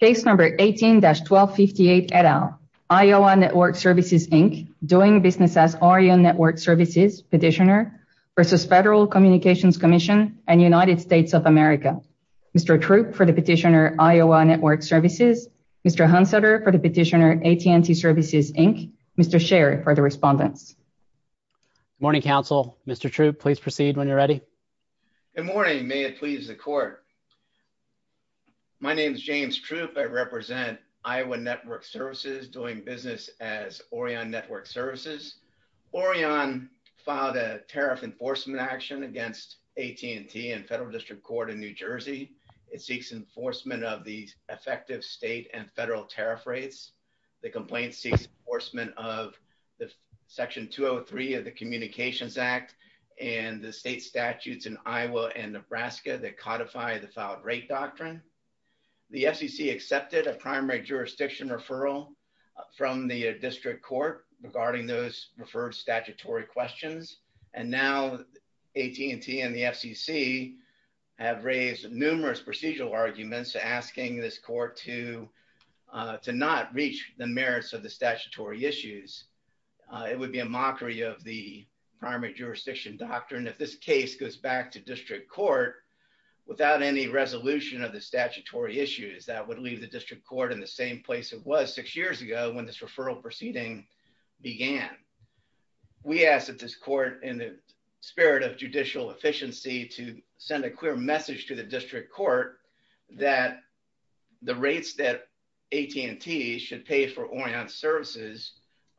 Case number 18-1258 et al., Iowa Network Services, Inc., Doing Business as Orion Network Services, Petitioner, v. Federal Communications Commission, and United States of America. Mr. Troop for the Petitioner, Iowa Network Services, Mr. Hunseter for the Petitioner, AT&T Services, Inc., Mr. Sherry for the Respondents. Good morning, counsel. Mr. Troop, please proceed when you're ready. Good morning. May it please the court. My name is James Troop. I represent Iowa Network Services, Doing Business as Orion Network Services. Orion filed a tariff enforcement action against AT&T and Federal District Court in New Jersey. It seeks enforcement of the effective state and federal tariff rates. The complaint seeks enforcement of Section 203 of the Communications Act and the state statutes in Iowa and Nebraska that codify the Fouled Rate Doctrine. The FCC accepted a primary jurisdiction referral from the district court regarding those referred statutory questions. And now AT&T and the FCC have raised numerous procedural arguments asking this court to not reach the merits of the statutory issues. It would be a mockery of the primary jurisdiction doctrine if this case goes back to district court without any resolution of the statutory issues that would leave the district court in the same place it was six years ago when this referral proceeding began. We ask that this court, in the spirit of judicial efficiency, to send a clear message to the district court that the rates that AT&T should pay for Orion services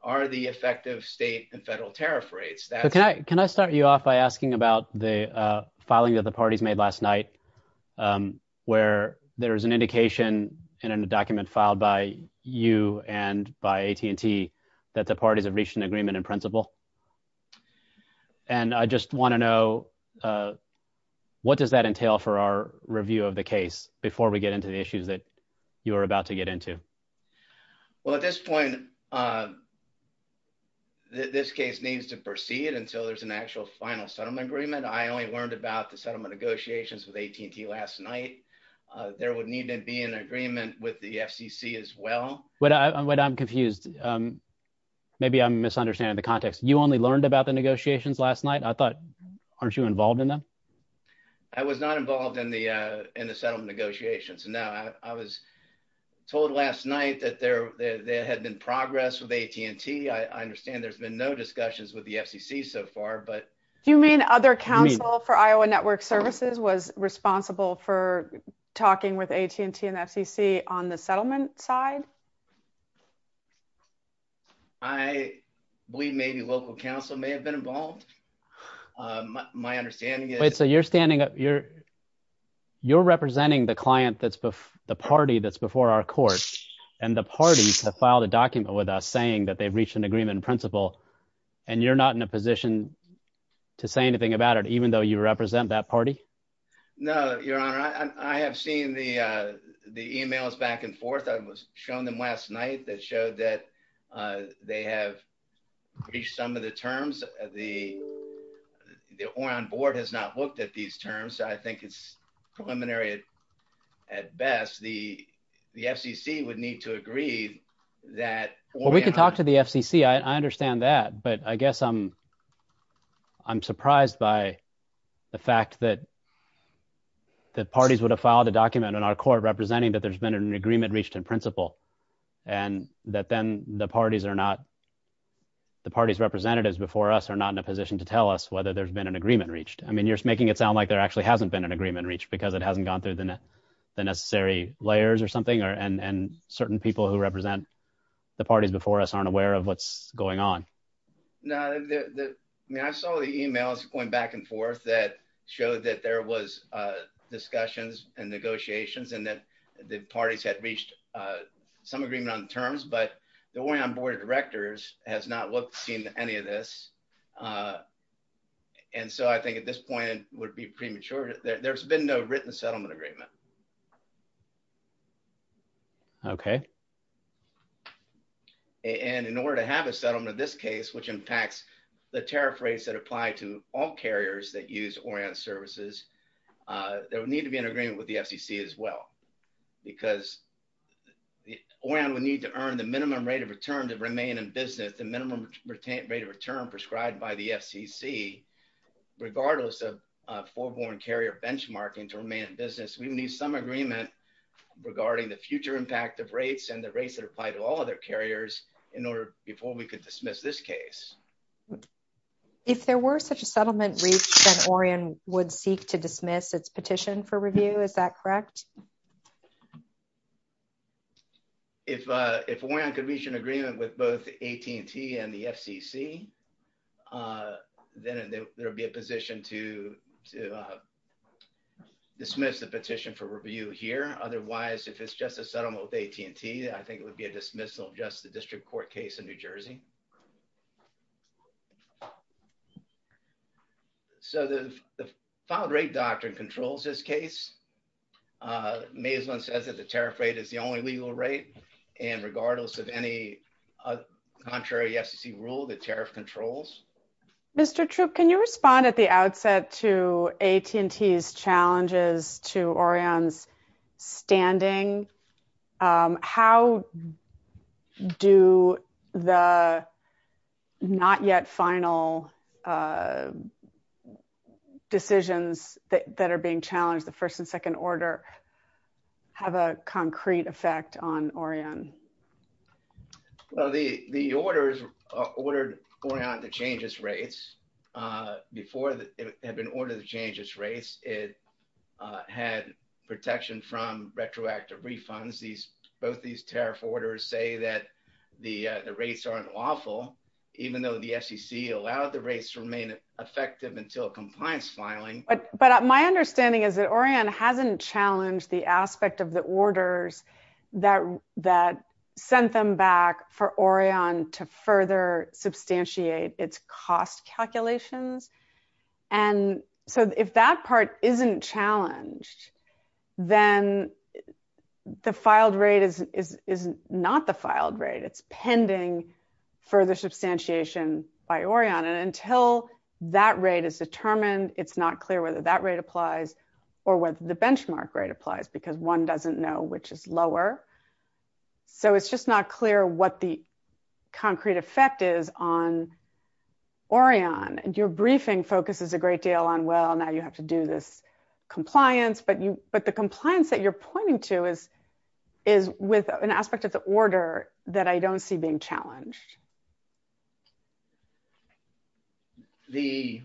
are the effective state and federal tariff rates. Can I start you off by asking about the filing that the parties made last night where there is an indication in a document filed by you and by AT&T that the parties have reached an agreement in principle? And I just want to know what does that entail for our review of the case before we get into the issues that you are about to get into? Well, at this point, this case needs to proceed until there's an actual final settlement agreement. I only learned about the settlement negotiations with AT&T last night. There would need to be an agreement with the FCC as well. Wait, I'm confused. Maybe I'm misunderstanding the context. You only learned about the negotiations last night? I thought, aren't you involved in them? I was not involved in the settlement negotiations. No, I was told last night that there had been progress with AT&T. I understand there's been no discussions with the FCC so far. Do you mean other counsel for Iowa Network Services was responsible for talking with AT&T and FCC on the settlement side? I believe maybe local counsel may have been involved. My understanding is… Wait, so you're representing the party that's before our court, and the parties have filed a document with us saying that they've reached an agreement in principle, and you're not in a position to say anything about it even though you represent that party? No, Your Honor. I have seen the emails back and forth. I was shown them last night that showed that they have reached some of the terms. The ORAN board has not looked at these terms. I think it's preliminary at best. The FCC would need to agree that… Well, we can talk to the FCC. I understand that, but I guess I'm surprised by the fact that the parties would have filed a document in our court representing that there's been an agreement reached in principle, and that then the parties representatives before us are not in a position to tell us whether there's been an agreement reached. I mean, you're making it sound like there actually hasn't been an agreement reached because it hasn't gone through the necessary layers or something, and certain people who represent the parties before us aren't aware of what's going on. No. I mean, I saw the emails going back and forth that showed that there was discussions and negotiations and that the parties had reached some agreement on terms, but the ORAN board of directors has not seen any of this, and so I think at this point it would be premature. There's been no written settlement agreement. Okay. And in order to have a settlement in this case, which impacts the tariff rates that apply to all carriers that use ORAN services, there would need to be an agreement with the FCC as well, because ORAN would need to earn the minimum rate of return to remain in business, the minimum rate of return prescribed by the FCC, regardless of a forewarned carrier benchmarking to remain in business. We need some agreement regarding the future impact of rates and the rates that apply to all other carriers before we could dismiss this case. If there were such a settlement reached, then ORAN would seek to dismiss its petition for review. Is that correct? If ORAN could reach an agreement with both AT&T and the FCC, then there would be a position to dismiss the petition for review here. Otherwise, if it's just a settlement with AT&T, I think it would be a dismissal of just the district court case in New Jersey. So the filed rate doctrine controls this case. Mazelon says that the tariff rate is the only legal rate. And regardless of any contrary FCC rule, the tariff controls. Mr. Troop, can you respond at the outset to AT&T's challenges to ORAN's standing? How do the not yet final decisions that are being challenged, the first and second order, have a concrete effect on ORAN? The orders ordered ORAN to change its rates. Before it had been ordered to change its rates, it had protection from retroactive refunds. Both these tariff orders say that the rates aren't lawful, even though the FCC allowed the rates to remain effective until compliance filing. But my understanding is that ORAN hasn't challenged the aspect of the orders that sent them back for ORAN to further substantiate its cost calculations. And so if that part isn't challenged, then the filed rate is not the filed rate. It's pending further substantiation by ORAN. And until that rate is determined, it's not clear whether that rate applies or whether the benchmark rate applies, because one doesn't know which is lower. So it's just not clear what the concrete effect is on ORAN. And your briefing focuses a great deal on, well, now you have to do this compliance. But the compliance that you're pointing to is with an aspect of the order that I don't see being challenged. The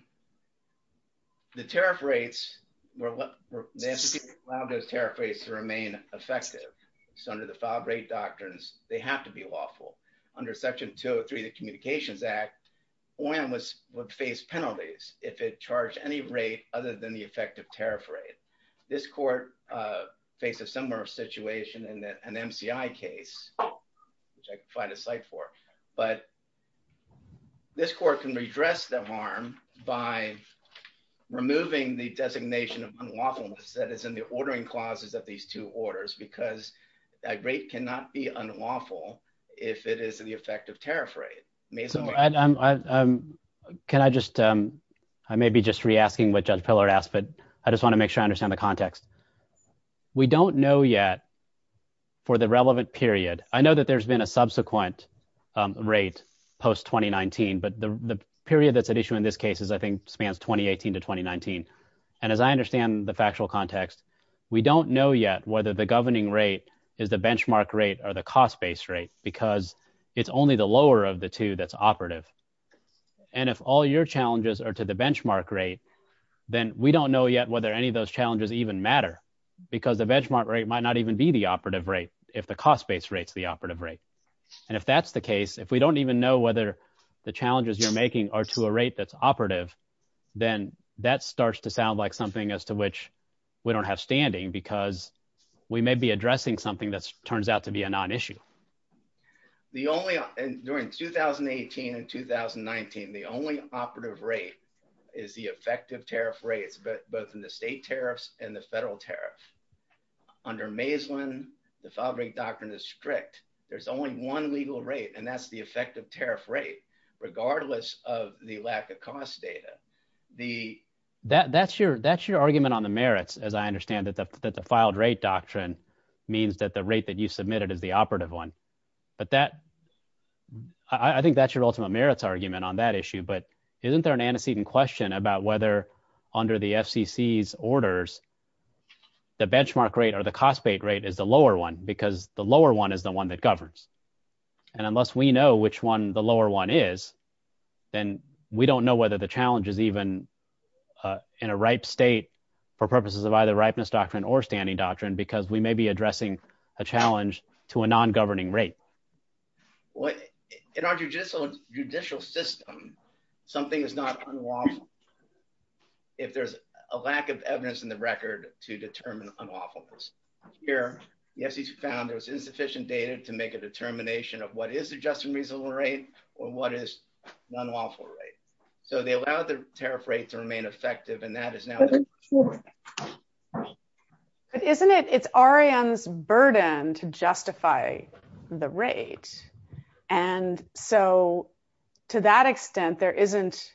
tariff rates, the FCC allowed those tariff rates to remain effective. So under the filed rate doctrines, they have to be lawful. Under Section 203 of the Communications Act, ORAN would face penalties if it charged any rate other than the effective tariff rate. This court faced a similar situation in an MCI case, which I can find a site for. But this court can redress the harm by removing the designation of unlawfulness that is in the ordering clauses of these two orders, because that rate cannot be unlawful if it is the effective tariff rate. So can I just, I may be just re-asking what Judge Pillard asked, but I just want to make sure I understand the context. We don't know yet for the relevant period. I know that there's been a subsequent rate post-2019, but the period that's at issue in this case is, I think, spans 2018 to 2019. And as I understand the factual context, we don't know yet whether the governing rate is the benchmark rate or the cost-based rate, because it's only the lower of the two that's operative. And if all your challenges are to the benchmark rate, then we don't know yet whether any of those challenges even matter, because the benchmark rate might not even be the operative rate if the cost-based rate's the operative rate. And if that's the case, if we don't even know whether the challenges you're making are to a rate that's operative, then that starts to sound like something as to which we don't have standing, because we may be addressing something that turns out to be a non-issue. During 2018 and 2019, the only operative rate is the effective tariff rates, both in the state tariffs and the federal tariff. Under Maislin, the filed rate doctrine is strict. There's only one legal rate, and that's the effective tariff rate, regardless of the lack of cost data. That's your argument on the merits, as I understand it, that the filed rate doctrine means that the rate that you submitted is the operative one. I think that's your ultimate merits argument on that issue, but isn't there an antecedent question about whether under the FCC's orders, the benchmark rate or the cost-based rate is the lower one, because the lower one is the one that governs? And unless we know which one the lower one is, then we don't know whether the challenge is even in a ripe state for purposes of either ripeness doctrine or standing doctrine, because we may be addressing a challenge to a non-governing rate. In our judicial system, something is not unlawful if there's a lack of evidence in the record to determine unlawfulness. Here, the FCC found there was insufficient data to make a determination of what is a just and reasonable rate or what is an unlawful rate. So they allowed the tariff rate to remain effective, and that is now the case. But isn't it? It's ORION's burden to justify the rate. And so, to that extent, there isn't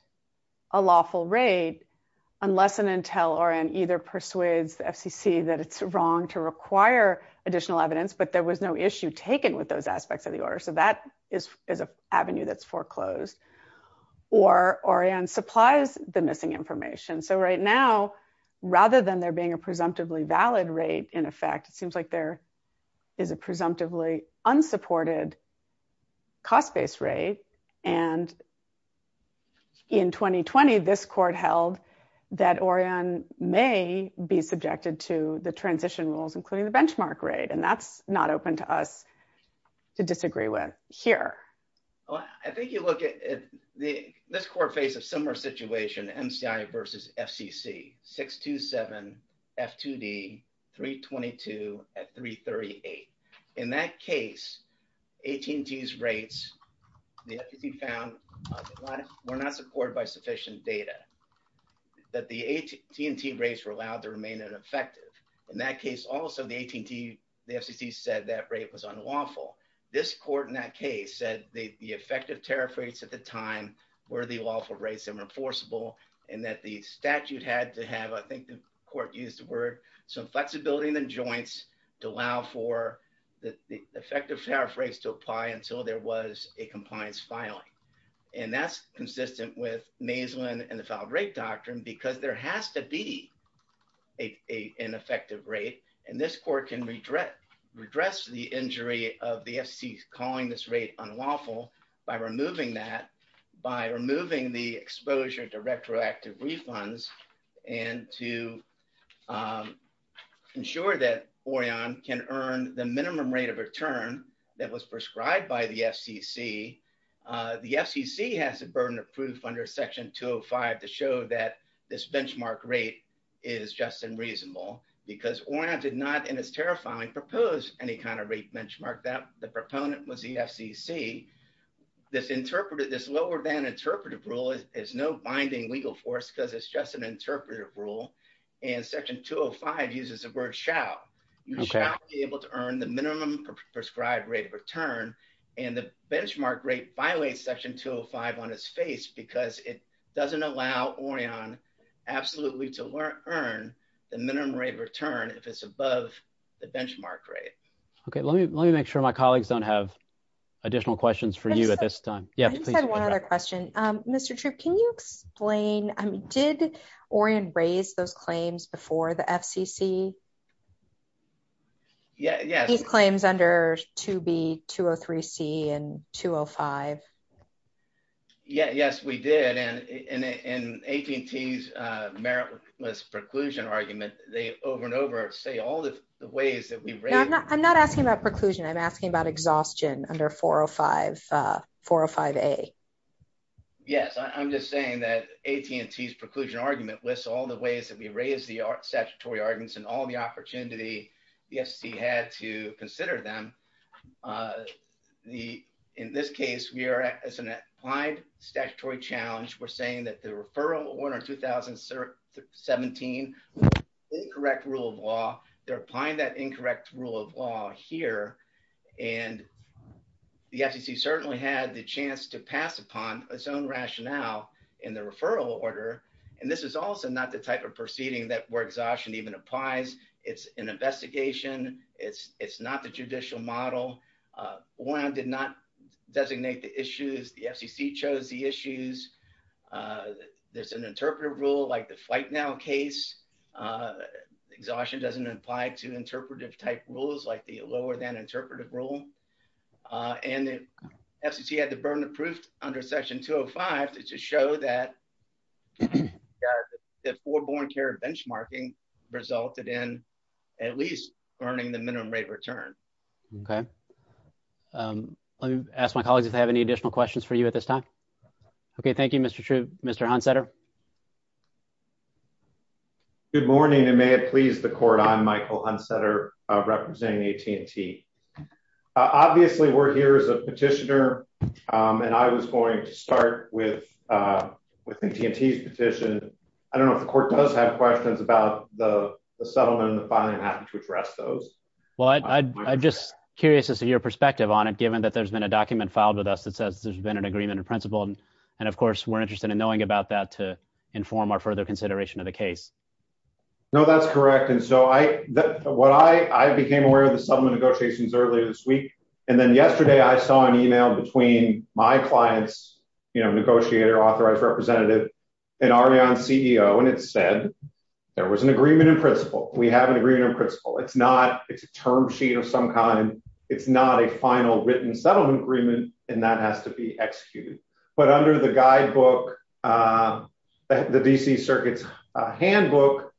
a lawful rate, unless an intel ORION either persuades the FCC that it's wrong to require additional evidence, but there was no issue taken with those aspects of the order. So that is an avenue that's foreclosed. Or ORION supplies the missing information. So right now, rather than there being a presumptively valid rate, in effect, it seems like there is a presumptively unsupported cost-based rate. And in 2020, this court held that ORION may be subjected to the transition rules, including the benchmark rate, and that's not open to us to disagree with here. Well, I think you look at this court face a similar situation, MCI versus FCC, 627 F2D, 322 at 338. In that case, AT&T's rates, the FCC found, were not supported by sufficient data, that the AT&T rates were allowed to remain ineffective. In that case also, the AT&T, the FCC said that rate was unlawful. This court in that case said the effective tariff rates at the time were the lawful rates and were enforceable, and that the statute had to have, I think the court used the word, some flexibility in the joints to allow for the effective tariff rates to apply until there was a compliance filing. And that's consistent with maslin and the filed rate doctrine, because there has to be an effective rate, and this court can redress the injury of the FCC calling this rate unlawful by removing that, by removing the exposure to retroactive refunds, and to ensure that ORION can earn the minimum rate of return that was prescribed by the FCC. The FCC has a burden of proof under section 205 to show that this benchmark rate is just and reasonable, because ORION did not, in its tariff filing, propose any kind of rate benchmark that the proponent was the FCC. This lower than interpretive rule is no binding legal force because it's just an interpretive rule, and section 205 uses the word shall. You shall be able to earn the minimum prescribed rate of return, and the benchmark rate violates section 205 on its face because it doesn't allow ORION absolutely to earn the minimum rate of return if it's above the benchmark rate. Okay, let me make sure my colleagues don't have additional questions for you at this time. Yeah, please. I just had one other question. Mr. Troup, can you explain, did ORION raise those claims before the FCC? Yeah, yeah. These claims under 2B, 203C, and 205? Yes, we did, and AT&T's meritless preclusion argument, they over and over say all the ways that we've raised... I'm not asking about preclusion. I'm asking about exhaustion under 405A. Yes, I'm just saying that AT&T's preclusion argument lists all the ways that we raised the statutory arguments and all the opportunity the FCC had to consider them. In this case, we are, as an applied statutory challenge, we're saying that the referral order 2017 was an incorrect rule of law. They're applying that incorrect rule of law here, and the FCC certainly had the chance to pass upon its own rationale in the referral order, and this is also not the type of proceeding where exhaustion even applies. It's an investigation. It's not the judicial model. ORION did not designate the issues. The FCC chose the issues. There's an interpretive rule like the Fight Now case. Exhaustion doesn't apply to interpretive type rules like the lower than interpretive rule, and the FCC had the burden of proof under Section 205 to show that the foreborn care of benchmarking resulted in at least earning the minimum rate return. Okay. Let me ask my colleagues if they have any additional questions for you at this time. Okay. Thank you, Mr. True. Mr. Hunsetter. Good morning, and may it please the court. I'm Michael Hunsetter representing AT&T. Obviously, we're here as a petitioner, and I was going to start with AT&T's petition. I don't know if the court does have questions about the settlement and the filing. I'm happy to address those. Well, I'm just curious as to your perspective on it, given that there's been a document filed with us that says there's been an agreement in principle, and, of course, we're interested in knowing about that to inform our further consideration of the case. No, that's correct. I became aware of the settlement negotiations earlier this week, and then yesterday I saw an email between my client's negotiator, authorized representative, and Ariane's CEO, and it said there was an agreement in principle. We have an agreement in principle. It's a term sheet of some kind. It's not a final written settlement agreement, and that has to be executed. But under the guidebook, the D.C. Circuit's handbook,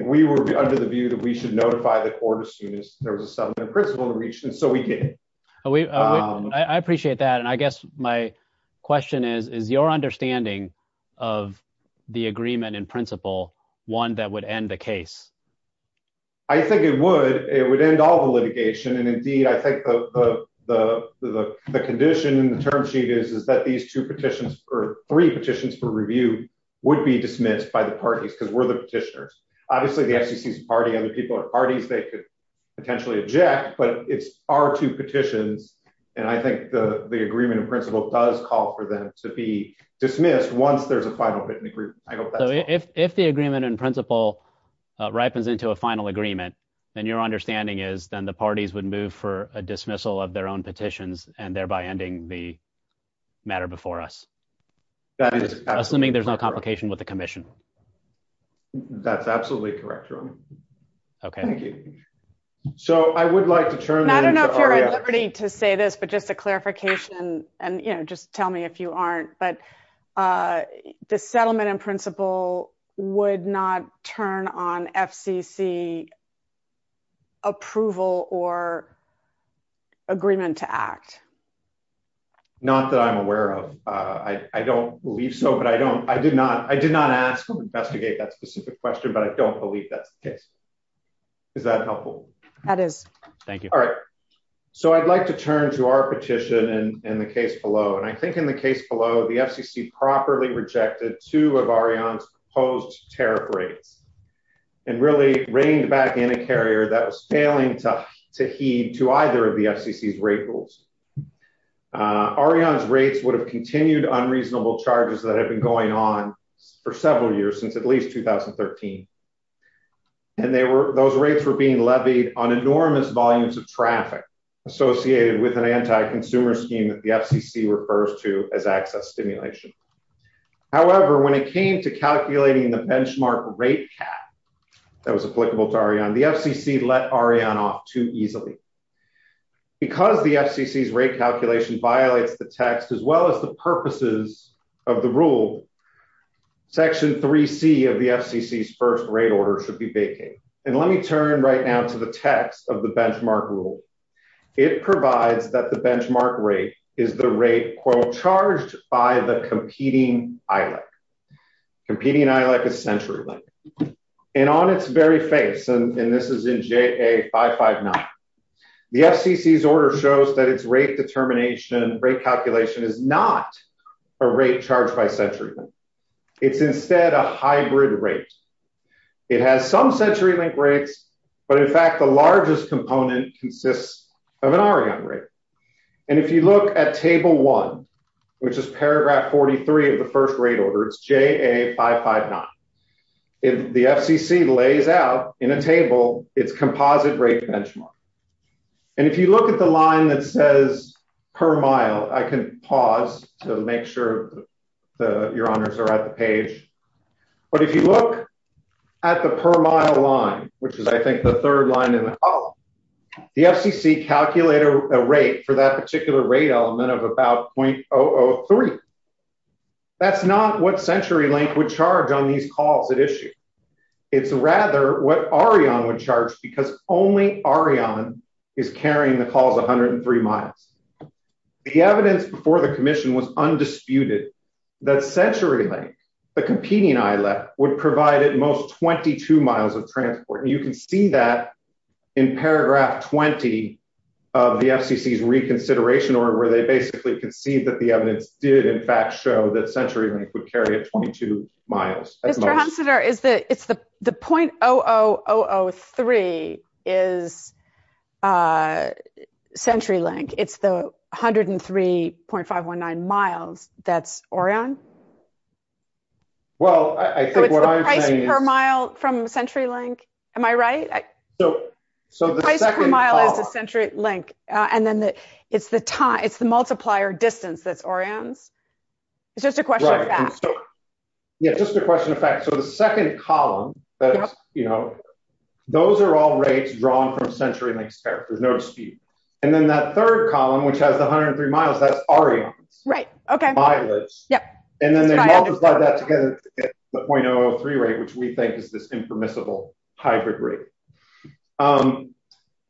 we were under the view that we should notify the court as soon as there was a settlement in principle reached, and so we did. I appreciate that, and I guess my question is, is your understanding of the agreement in principle one that would end the case? I think it would. It would end all the litigation, and indeed, I think the condition in the term sheet is that these three petitions for review would be dismissed by the parties, because we're the petitioners. Obviously, the FCC's a party. Other people are parties. They could potentially object, but it's our two petitions, and I think the agreement in principle does call for them to be dismissed once there's a final written agreement. So if the agreement in principle ripens into a final agreement, then your understanding is then the parties would move for a dismissal of their own petitions, and thereby ending the matter before us, assuming there's no complication with the commission? That's absolutely correct, Ron. Okay. Thank you. I don't know if you're at liberty to say this, but just a clarification, and just tell me if you aren't, but the settlement in principle would not turn on FCC approval or agreement to act? Not that I'm aware of. I don't believe so, but I did not ask them to investigate that specific question, but I don't believe that's the case. Is that helpful? That is. Thank you. All right. So I'd like to turn to our petition and the case below, and I think in the case below, the FCC properly rejected two of Ariane's proposed tariff rates and really reined back in a carrier that was failing to heed to either of the FCC's rate rules. Ariane's rates would have continued unreasonable charges that have been going on for several years, since at least 2013. And those rates were being levied on enormous volumes of traffic associated with an anti-consumer scheme that the FCC refers to as access stimulation. However, when it came to calculating the benchmark rate cap that was applicable to Ariane, the FCC let Ariane off too easily. Because the FCC's rate calculation violates the text, as well as the purposes of the rule, Section 3C of the FCC's first rate order should be vacated. And let me turn right now to the text of the benchmark rule. It provides that the benchmark rate is the rate, quote, charged by the competing ILEC. Competing ILEC is CenturyLink. And on its very face, and this is in JA559, the FCC's order shows that its rate determination, rate calculation is not a rate charged by CenturyLink. It's instead a hybrid rate. It has some CenturyLink rates, but in fact, the largest component consists of an Ariane rate. And if you look at Table 1, which is Paragraph 43 of the first rate order, it's JA559, the FCC lays out in a table its composite rate benchmark. And if you look at the line that says per mile, I can pause to make sure your honors are at the page. But if you look at the per mile line, which is I think the third line in the column, the FCC calculated a rate for that particular rate element of about .003. That's not what CenturyLink would charge on these calls at issue. It's rather what Ariane would charge because only Ariane is carrying the calls 103 miles. The evidence before the commission was undisputed that CenturyLink, the competing ILEC, would provide at most 22 miles of transport. And you can see that in Paragraph 20 of the FCC's reconsideration order, where they basically conceived that the evidence did in fact show that CenturyLink would carry at 22 miles. The .00003 is CenturyLink. It's the 103.519 miles that's Ariane. Well, I think what I'm saying is… So it's the price per mile from CenturyLink. Am I right? So the second… The price per mile is the CenturyLink. And then it's the multiplier distance that's Ariane's. It's just a question of fact. Yeah, just a question of fact. So the second column, those are all rates drawn from CenturyLink's character. There's no dispute. And then that third column, which has the 103 miles, that's Ariane's mileage. And then they multiply that together to get the .0003 rate, which we think is this impermissible hybrid rate.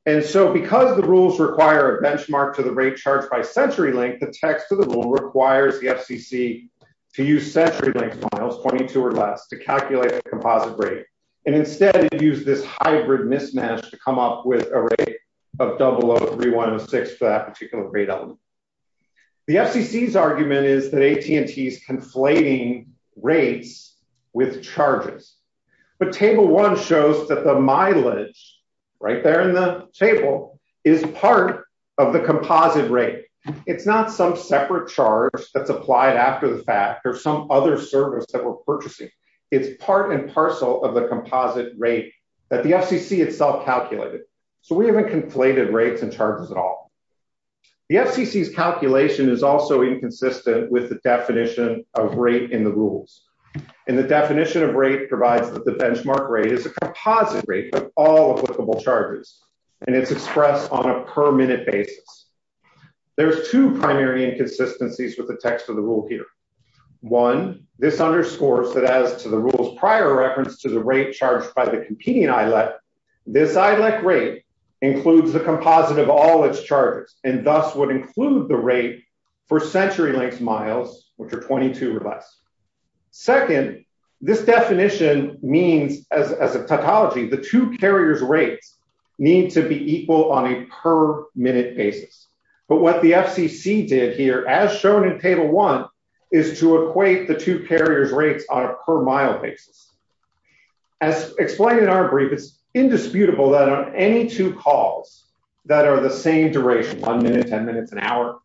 And so because the rules require a benchmark to the rate charged by CenturyLink, the text of the rule requires the FCC to use CenturyLink's miles, 22 or less, to calculate the composite rate. And instead, it used this hybrid mismatch to come up with a rate of .0003106 for that particular grade element. The FCC's argument is that AT&T is conflating rates with charges. But Table 1 shows that the mileage, right there in the table, is part of the composite rate. It's not some separate charge that's applied after the fact or some other service that we're purchasing. It's part and parcel of the composite rate that the FCC itself calculated. So we haven't conflated rates and charges at all. The FCC's calculation is also inconsistent with the definition of rate in the rules. And the definition of rate provides that the benchmark rate is a composite rate of all applicable charges. And it's expressed on a per-minute basis. There's two primary inconsistencies with the text of the rule here. One, this underscores that as to the rule's prior reference to the rate charged by the competing ILEC, this ILEC rate includes the composite of all its charges and thus would include the rate for CenturyLink's miles, which are 22 or less. Second, this definition means, as a tautology, the two carriers' rates need to be equal on a per-minute basis. But what the FCC did here, as shown in Table 1, is to equate the two carriers' rates on a per-mile basis. As explained in our brief, it's indisputable that on any two calls that are the same duration, 1 minute, 10 minutes, an hour,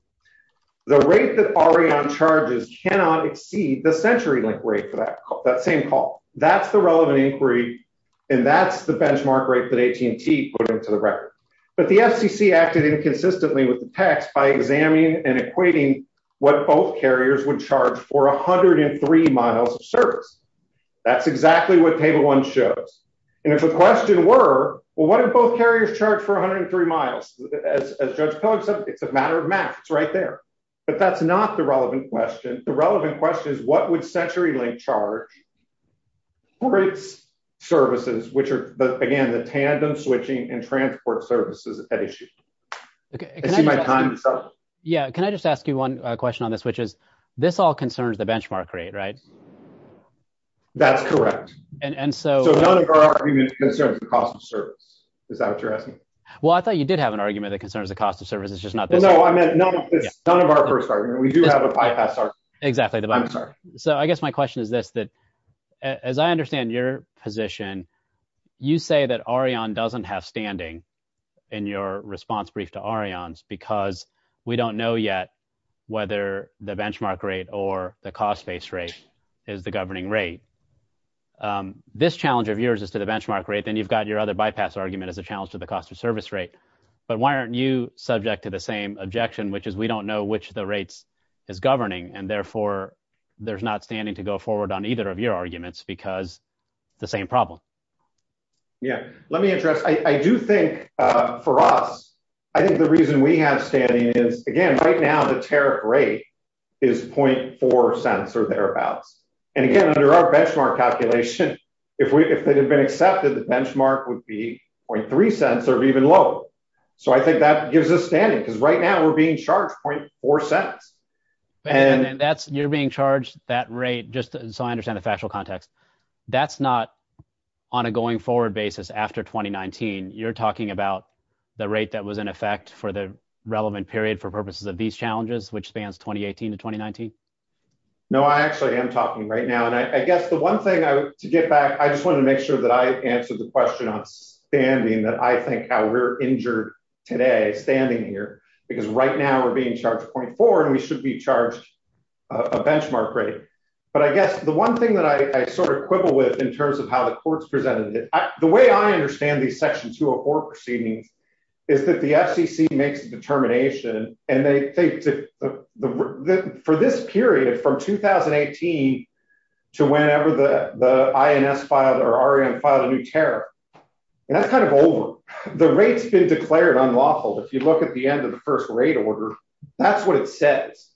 the rate that Ariane charges cannot exceed the CenturyLink rate for that same call. That's the relevant inquiry, and that's the benchmark rate that AT&T put into the record. But the FCC acted inconsistently with the text by examining and equating what both carriers would charge for 103 miles of service. That's exactly what Table 1 shows. And if the question were, well, what if both carriers charge for 103 miles? As Judge Pollock said, it's a matter of math. It's right there. But that's not the relevant question. The relevant question is, what would CenturyLink charge for its services, which are, again, the tandem switching and transport services at issue? I see my time is up. Yeah, can I just ask you one question on this, which is, this all concerns the benchmark rate, right? That's correct. So none of our argument concerns the cost of service. Is that what you're asking? Well, I thought you did have an argument that concerns the cost of service. It's just not this one. No, I meant none of our first argument. We do have a bypass argument. Exactly. I'm sorry. So I guess my question is this, that as I understand your position, you say that Ariane doesn't have standing in your response brief to Ariane's because we don't know yet whether the benchmark rate or the cost-based rate is the governing rate. This challenge of yours is to the benchmark rate, then you've got your other bypass argument as a challenge to the cost of service rate. But why aren't you subject to the same objection, which is we don't know which of the rates is governing, and therefore there's not standing to go forward on either of your arguments because it's the same problem? Yeah, let me address, I do think for us, I think the reason we have standing is, again, right now the tariff rate is 0.4 cents or thereabouts. And again, under our benchmark calculation, if it had been accepted, the benchmark would be 0.3 cents or even lower. So I think that gives us standing because right now we're being charged 0.4 cents. And you're being charged that rate, just so I understand the factual context, that's not on a going-forward basis after 2019. You're talking about the rate that was in effect for the relevant period for purposes of these challenges, which spans 2018 to 2019? No, I actually am talking right now. And I guess the one thing to get back, I just want to make sure that I answered the question on standing, that I think how we're injured today standing here, because right now we're being charged 0.4 and we should be charged a benchmark rate. But I guess the one thing that I sort of quibble with in terms of how the courts presented it, the way I understand these Section 204 proceedings is that the FCC makes the determination, and for this period from 2018 to whenever the INS filed or REM filed a new tariff, and that's kind of over. The rate's been declared unlawful. If you look at the end of the first rate order, that's what it says.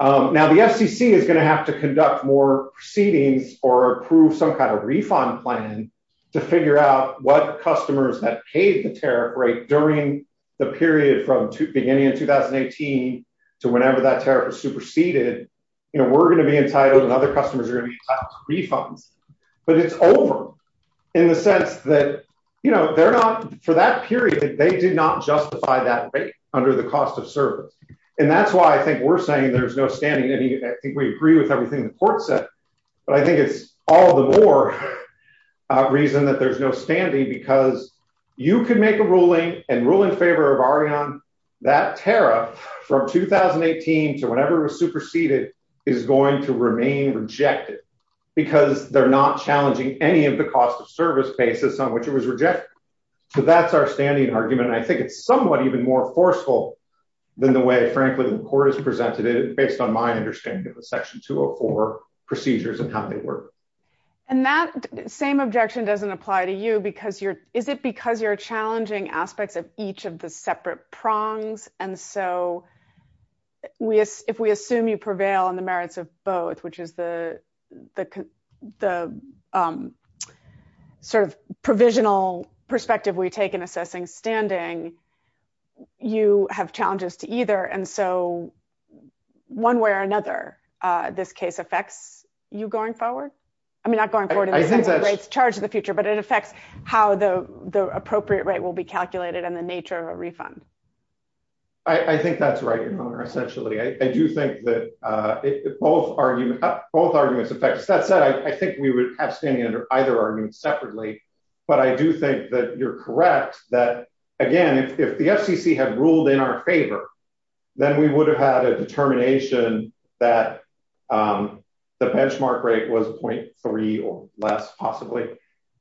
Now, the FCC is going to have to conduct more proceedings or approve some kind of refund plan to figure out what customers that paid the tariff rate during the period from beginning in 2018 to whenever that tariff was superseded. We're going to be entitled and other customers are going to be entitled to refunds. But it's over in the sense that for that period, they did not justify that rate under the cost of service. And that's why I think we're saying there's no standing. I think we agree with everything the court said. But I think it's all the more reason that there's no standing because you can make a ruling and rule in favor of Ariane. That tariff from 2018 to whenever it was superseded is going to remain rejected because they're not challenging any of the cost of service basis on which it was rejected. So that's our standing argument. I think it's somewhat even more forceful than the way, frankly, the court has presented it based on my understanding of the Section 204 procedures and how they work. And that same objection doesn't apply to you because you're is it because you're challenging aspects of each of the separate prongs. And so we if we assume you prevail on the merits of both, which is the sort of provisional perspective we take in assessing standing. You have challenges to either. And so one way or another, this case affects you going forward. I mean, not going forward in the sense of rates charged in the future, but it affects how the appropriate rate will be calculated and the nature of a refund. I think that's right. Essentially, I do think that both arguments affect us. That said, I think we would have standing under either argument separately, but I do think that you're correct that, again, if the FCC had ruled in our favor, then we would have had a determination that the benchmark rate was 0.3 or less, possibly.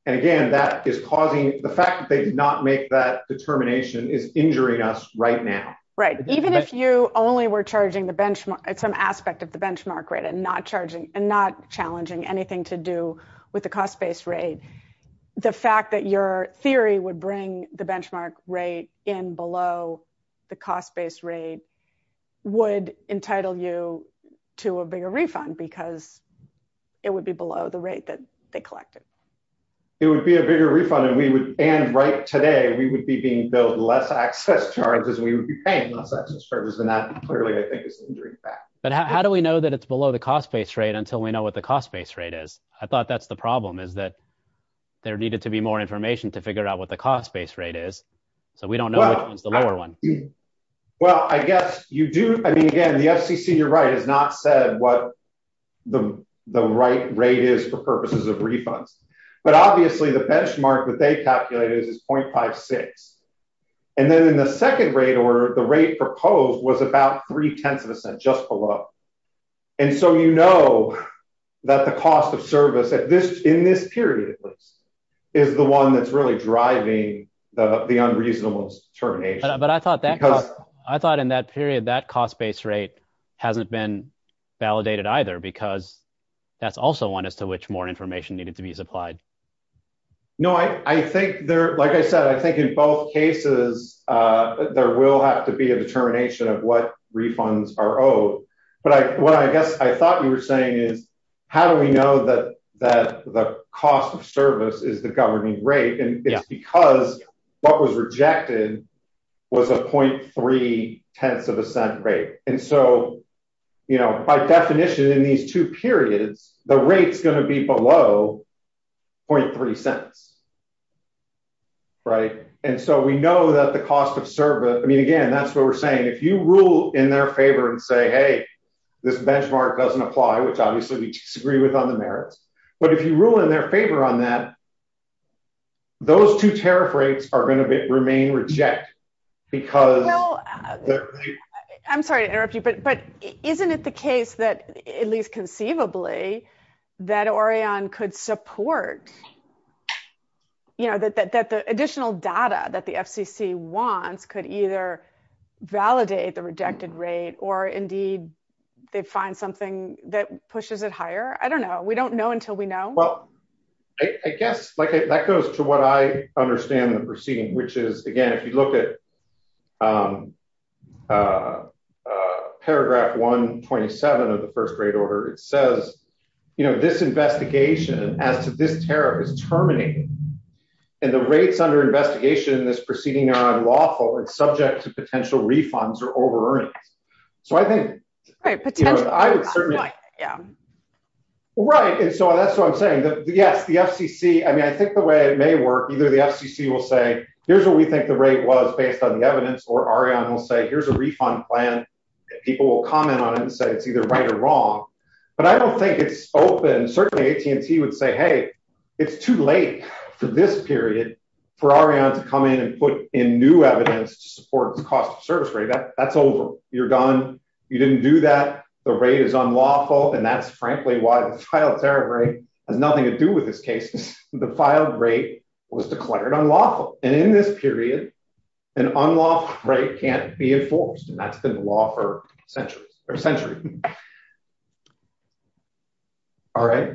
And again, that is causing the fact that they did not make that determination is injuring us right now. Right. Even if you only were charging the benchmark at some aspect of the benchmark rate and not charging and not challenging anything to do with the cost based rate. The fact that your theory would bring the benchmark rate in below the cost based rate would entitle you to a bigger refund because it would be below the rate that they collected. It would be a bigger refund and we would, and right today, we would be being billed less access charges, we would be paying less access charges. And that clearly, I think, is an injuring fact. But how do we know that it's below the cost based rate until we know what the cost based rate is? I thought that's the problem is that there needed to be more information to figure out what the cost based rate is. So we don't know which one's the lower one. Well, I guess you do. I mean, again, the FCC, you're right, has not said what the right rate is for purposes of refunds. But obviously, the benchmark that they calculated is 0.56. And then in the second rate order, the rate proposed was about three tenths of a cent, just below. And so, you know that the cost of service in this period is the one that's really driving the unreasonable determination. But I thought that I thought in that period, that cost based rate hasn't been validated either, because that's also one as to which more information needed to be supplied. No, I think they're like I said, I think in both cases, there will have to be a determination of what refunds are owed. But what I guess I thought you were saying is, how do we know that that the cost of service is the governing rate? And it's because what was rejected was a 0.3 tenths of a cent rate. And so, you know, by definition in these two periods, the rate is going to be below 0.3 cents. Right. And so we know that the cost of service I mean, again, that's what we're saying. If you rule in their favor and say, hey, this benchmark doesn't apply, which obviously we disagree with on the merits. But if you rule in their favor on that. Those two tariff rates are going to remain reject because. I'm sorry to interrupt you, but isn't it the case that at least conceivably that Orion could support. You know that the additional data that the FCC wants could either validate the rejected rate or indeed they find something that pushes it higher. I don't know. We don't know until we know. Well, I guess that goes to what I understand the proceeding, which is, again, if you look at. Paragraph 127 of the first grade order, it says, you know, this investigation as to this tariff is terminated and the rates under investigation in this proceeding are unlawful and subject to potential refunds or over earnings. So I think I would certainly. Yeah. Right. And so that's what I'm saying. Yes, the FCC. I mean, I think the way it may work, either the FCC will say, here's what we think the rate was based on the evidence or Arianna will say, here's a refund plan. People will comment on it and say it's either right or wrong. But I don't think it's open. Certainly, AT&T would say, hey, it's too late for this period for Arianna to come in and put in new evidence to support the cost of service rate. That's over. You're gone. You didn't do that. The rate is unlawful. And that's frankly why the file tariff rate has nothing to do with this case. The filed rate was declared unlawful. And in this period, an unlawful rate can't be enforced. And that's been the law for centuries or centuries. All right.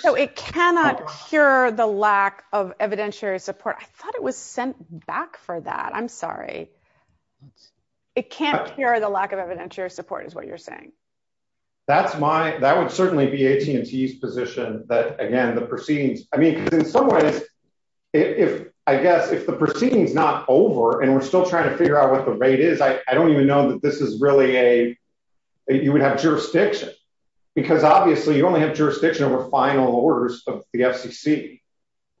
So it cannot cure the lack of evidentiary support. I thought it was sent back for that. I'm sorry. It can't cure the lack of evidentiary support is what you're saying. That's my that would certainly be AT&T's position that, again, the proceedings. I mean, in some ways, if I guess if the proceedings not over and we're still trying to figure out what the rate is, I don't even know that this is really a You would have jurisdiction because obviously you only have jurisdiction over final orders of the FCC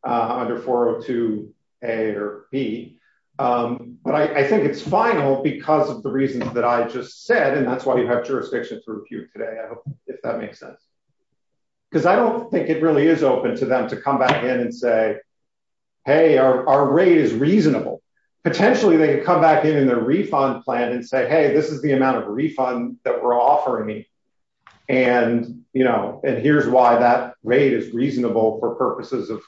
under 402 A or B. But I think it's final because of the reasons that I just said. And that's why you have jurisdiction to review today, if that makes sense. Because I don't think it really is open to them to come back in and say, hey, our rate is reasonable. Potentially, they could come back in in their refund plan and say, hey, this is the amount of refund that we're offering. And, you know, and here's why that rate is reasonable for purposes of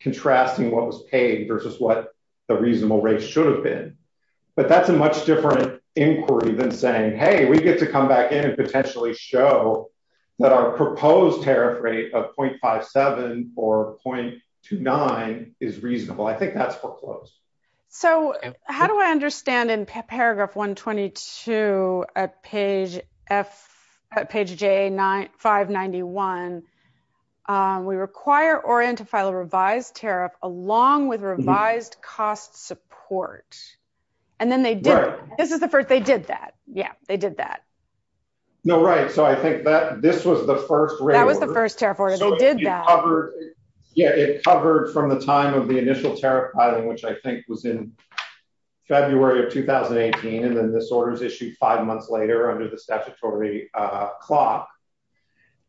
contrasting what was paid versus what the reasonable rate should have been. But that's a much different inquiry than saying, hey, we get to come back in and potentially show that our proposed tariff rate of .57 or .29 is reasonable. I think that's foreclosed. So how do I understand in paragraph 122 at page F at page J 591 We require Orient to file a revised tariff along with revised cost support and then they did. This is the first they did that. Yeah, they did that. No, right. So I think that this was the first rate. That was the first tariff order. They did that. It covered from the time of the initial tariff filing, which I think was in February of 2018. And then this order is issued five months later under the statutory clock.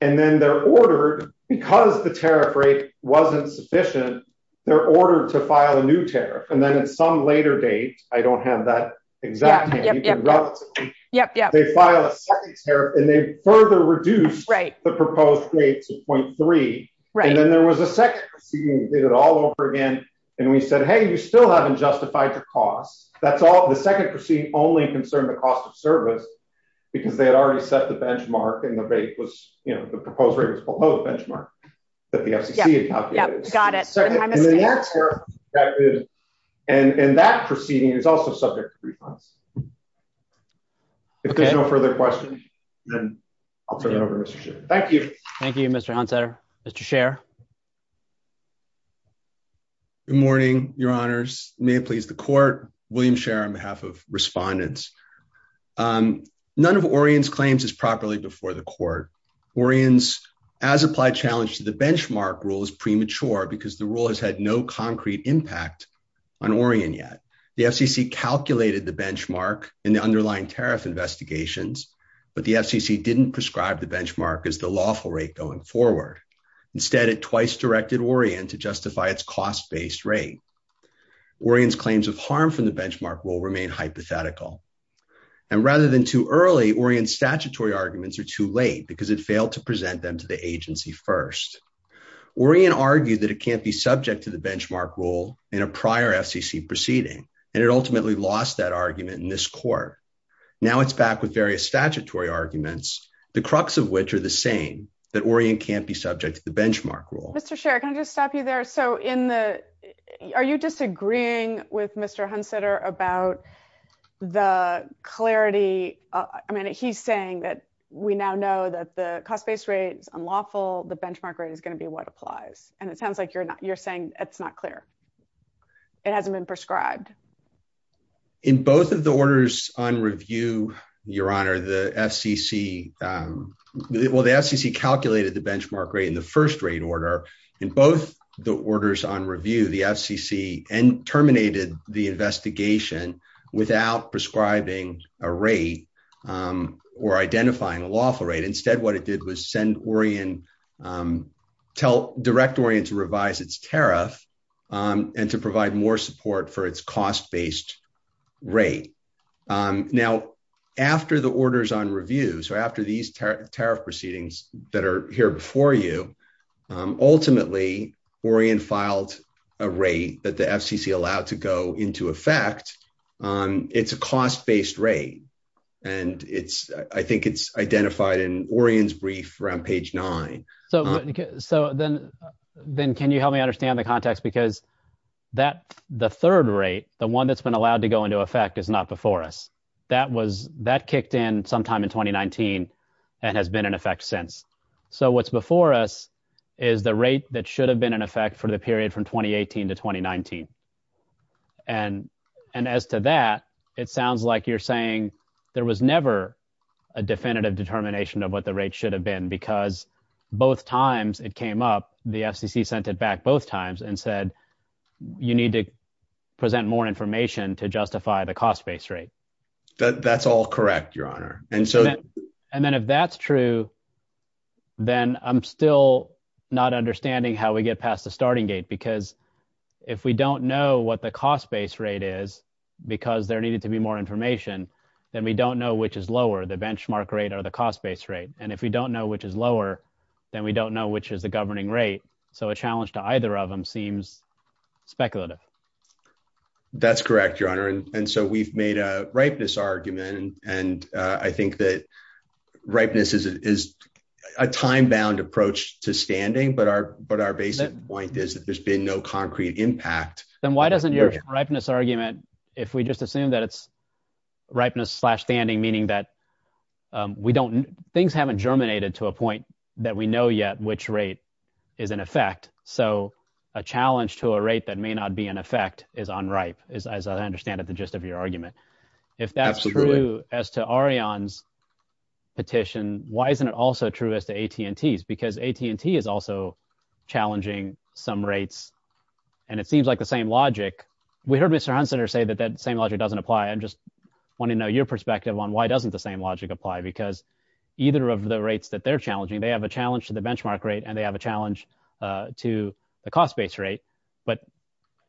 And then they're ordered because the tariff rate wasn't sufficient. They're ordered to file a new tariff. And then at some later date, I don't have that exactly. Yep, yep. They file a second tariff and they further reduce the proposed rate to .3. Right. And then there was a second proceeding. We did it all over again. And we said, hey, you still haven't justified the cost. That's all. The second proceeding only concerned the cost of service because they had already set the benchmark and the rate was, you know, the proposed rate was below the benchmark that the FCC had calculated. Got it. And that proceeding is also subject to refunds. If there's no further questions, then I'll turn it over to Mr. Scherer. Thank you. Thank you, Mr. Huntzer. Mr. Scherer. Good morning, your honors. May it please the court. William Scherer on behalf of respondents. None of Orian's claims is properly before the court. Orian's as applied challenge to the benchmark rule is premature because the rule has had no concrete impact on Orian yet. The FCC calculated the benchmark in the underlying tariff investigations, but the FCC didn't prescribe the benchmark as the lawful rate going forward. Instead, it twice directed Orian to justify its cost based rate. Orian's claims of harm from the benchmark will remain hypothetical. And rather than too early, Orian's statutory arguments are too late because it failed to present them to the agency first. Orian argued that it can't be subject to the benchmark rule in a prior FCC proceeding, and it ultimately lost that argument in this court. Now it's back with various statutory arguments, the crux of which are the same, that Orian can't be subject to the benchmark rule. Mr. Scherer, can I just stop you there? So are you disagreeing with Mr. Huntzer about the clarity? I mean, he's saying that we now know that the cost based rate is unlawful. The benchmark rate is going to be what applies. And it sounds like you're saying it's not clear. It hasn't been prescribed. In both of the orders on review, Your Honor, the FCC calculated the benchmark rate in the first rate order. In both the orders on review, the FCC terminated the investigation without prescribing a rate or identifying a lawful rate. Instead, what it did was send Orian, tell, direct Orian to revise its tariff and to provide more support for its cost based rate. Now, after the orders on review, so after these tariff proceedings that are here before you, ultimately, Orian filed a rate that the FCC allowed to go into effect. It's a cost based rate. And I think it's identified in Orian's brief around page nine. So then can you help me understand the context? Because the third rate, the one that's been allowed to go into effect is not before us. That kicked in sometime in 2019 and has been in effect since. So what's before us is the rate that should have been in effect for the period from 2018 to 2019. And as to that, it sounds like you're saying there was never a definitive determination of what the rate should have been because both times it came up, the FCC sent it back both times and said, you need to present more information to justify the cost based rate. That's all correct, Your Honor. And then if that's true, then I'm still not understanding how we get past the starting gate. Because if we don't know what the cost based rate is, because there needed to be more information, then we don't know which is lower, the benchmark rate or the cost based rate. And if we don't know which is lower, then we don't know which is the governing rate. So a challenge to either of them seems speculative. That's correct, Your Honor. And so we've made a ripeness argument. And I think that ripeness is a time bound approach to standing. But our basic point is that there's been no concrete impact. Then why doesn't your ripeness argument, if we just assume that it's ripeness slash standing, meaning that we don't, things haven't germinated to a point that we know yet which rate is in effect. So a challenge to a rate that may not be in effect is unripe, as I understand it, the gist of your argument. If that's true as to Arion's petition, why isn't it also true as to AT&T's? Because AT&T is also challenging some rates. And it seems like the same logic. We heard Mr. Hunseter say that that same logic doesn't apply. I just want to know your perspective on why doesn't the same logic apply? Because either of the rates that they're challenging, they have a challenge to the benchmark rate and they have a challenge to the cost base rate. But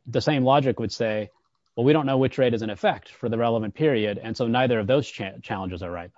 the same logic would say, well, we don't know which rate is in effect for the relevant period. And so neither of those challenges are ripe.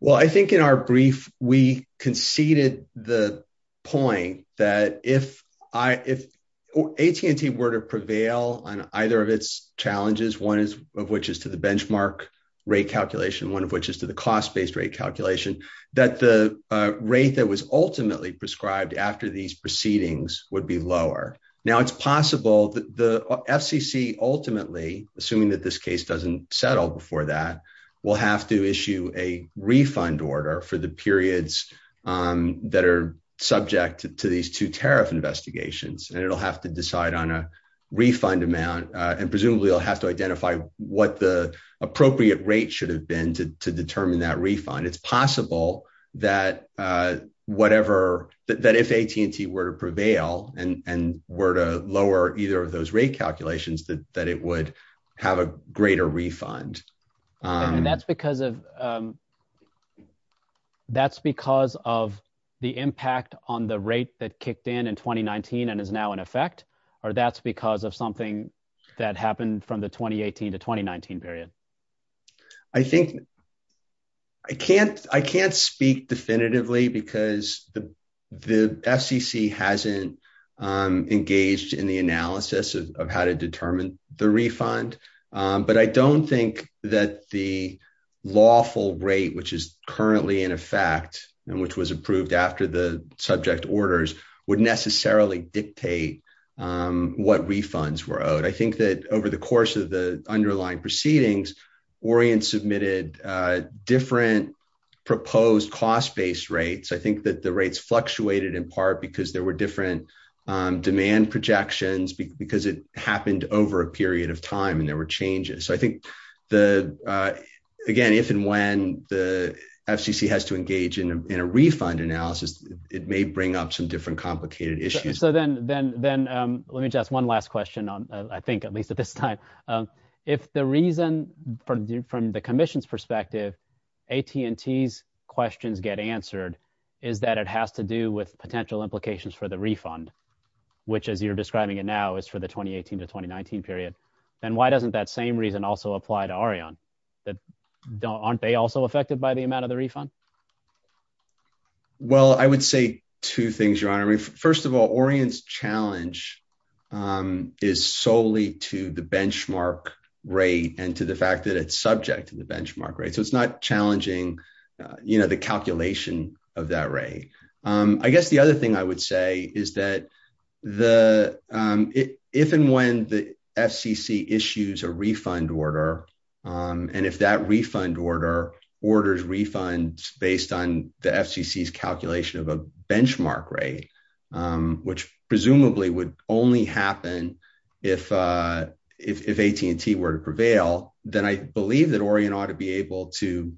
Well, I think in our brief, we conceded the point that if AT&T were to prevail on either of its challenges, one of which is to the benchmark rate calculation, one of which is to the cost based rate calculation, that the rate that was ultimately prescribed after these proceedings would be lower. Now, it's possible that the FCC ultimately, assuming that this case doesn't settle before that, will have to issue a refund order for the periods that are subject to these two tariff investigations. And it'll have to decide on a refund amount and presumably will have to identify what the appropriate rate should have been to determine that refund. It's possible that if AT&T were to prevail and were to lower either of those rate calculations, that it would have a greater refund. And that's because of the impact on the rate that kicked in in 2019 and is now in effect? Or that's because of something that happened from the 2018 to 2019 period? I think I can't speak definitively because the FCC hasn't engaged in the analysis of how to determine the refund. But I don't think that the lawful rate, which is currently in effect and which was approved after the subject orders, would necessarily dictate what refunds were owed. I think that over the course of the underlying proceedings, Orient submitted different proposed cost-based rates. I think that the rates fluctuated in part because there were different demand projections, because it happened over a period of time and there were changes. So I think, again, if and when the FCC has to engage in a refund analysis, it may bring up some different complicated issues. Let me just ask one last question, I think, at least at this time. If the reason, from the Commission's perspective, AT&T's questions get answered is that it has to do with potential implications for the refund, which, as you're describing it now, is for the 2018 to 2019 period, then why doesn't that same reason also apply to Orion? Aren't they also affected by the amount of the refund? Well, I would say two things, Your Honor. First of all, Orion's challenge is solely to the benchmark rate and to the fact that it's subject to the benchmark rate. So it's not challenging the calculation of that rate. I guess the other thing I would say is that if and when the FCC issues a refund order, and if that refund order orders refunds based on the FCC's calculation of a benchmark rate, which presumably would only happen if AT&T were to prevail, then I believe that Orion ought to be able to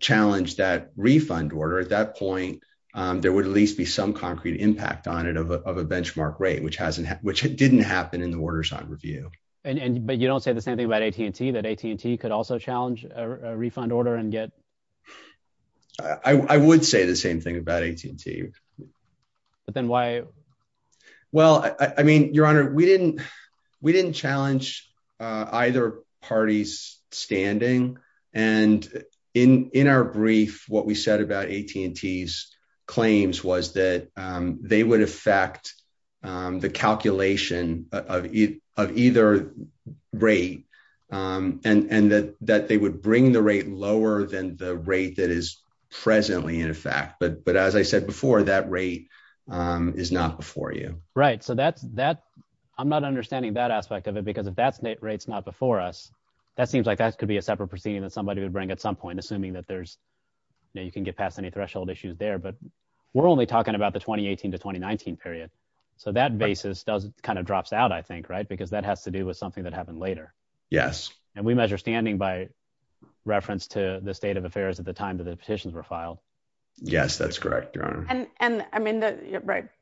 challenge that refund order. At that point, there would at least be some concrete impact on it of a benchmark rate, which didn't happen in the orders on review. But you don't say the same thing about AT&T, that AT&T could also challenge a refund order and get... I would say the same thing about AT&T. But then why? Well, I mean, Your Honor, we didn't challenge either party's standing. And in our brief, what we said about AT&T's claims was that they would affect the calculation of either rate and that they would bring the rate lower than the rate that is presently in effect. But as I said before, that rate is not before you. Right. So I'm not understanding that aspect of it, because if that rate's not before us, that seems like that could be a separate proceeding that somebody would bring at some point, assuming that you can get past any threshold issues there. But we're only talking about the 2018 to 2019 period. So that basis kind of drops out, I think, right? Because that has to do with something that happened later. Yes. And we measure standing by reference to the state of affairs at the time that the petitions were filed. Yes, that's correct, Your Honor. And I mean,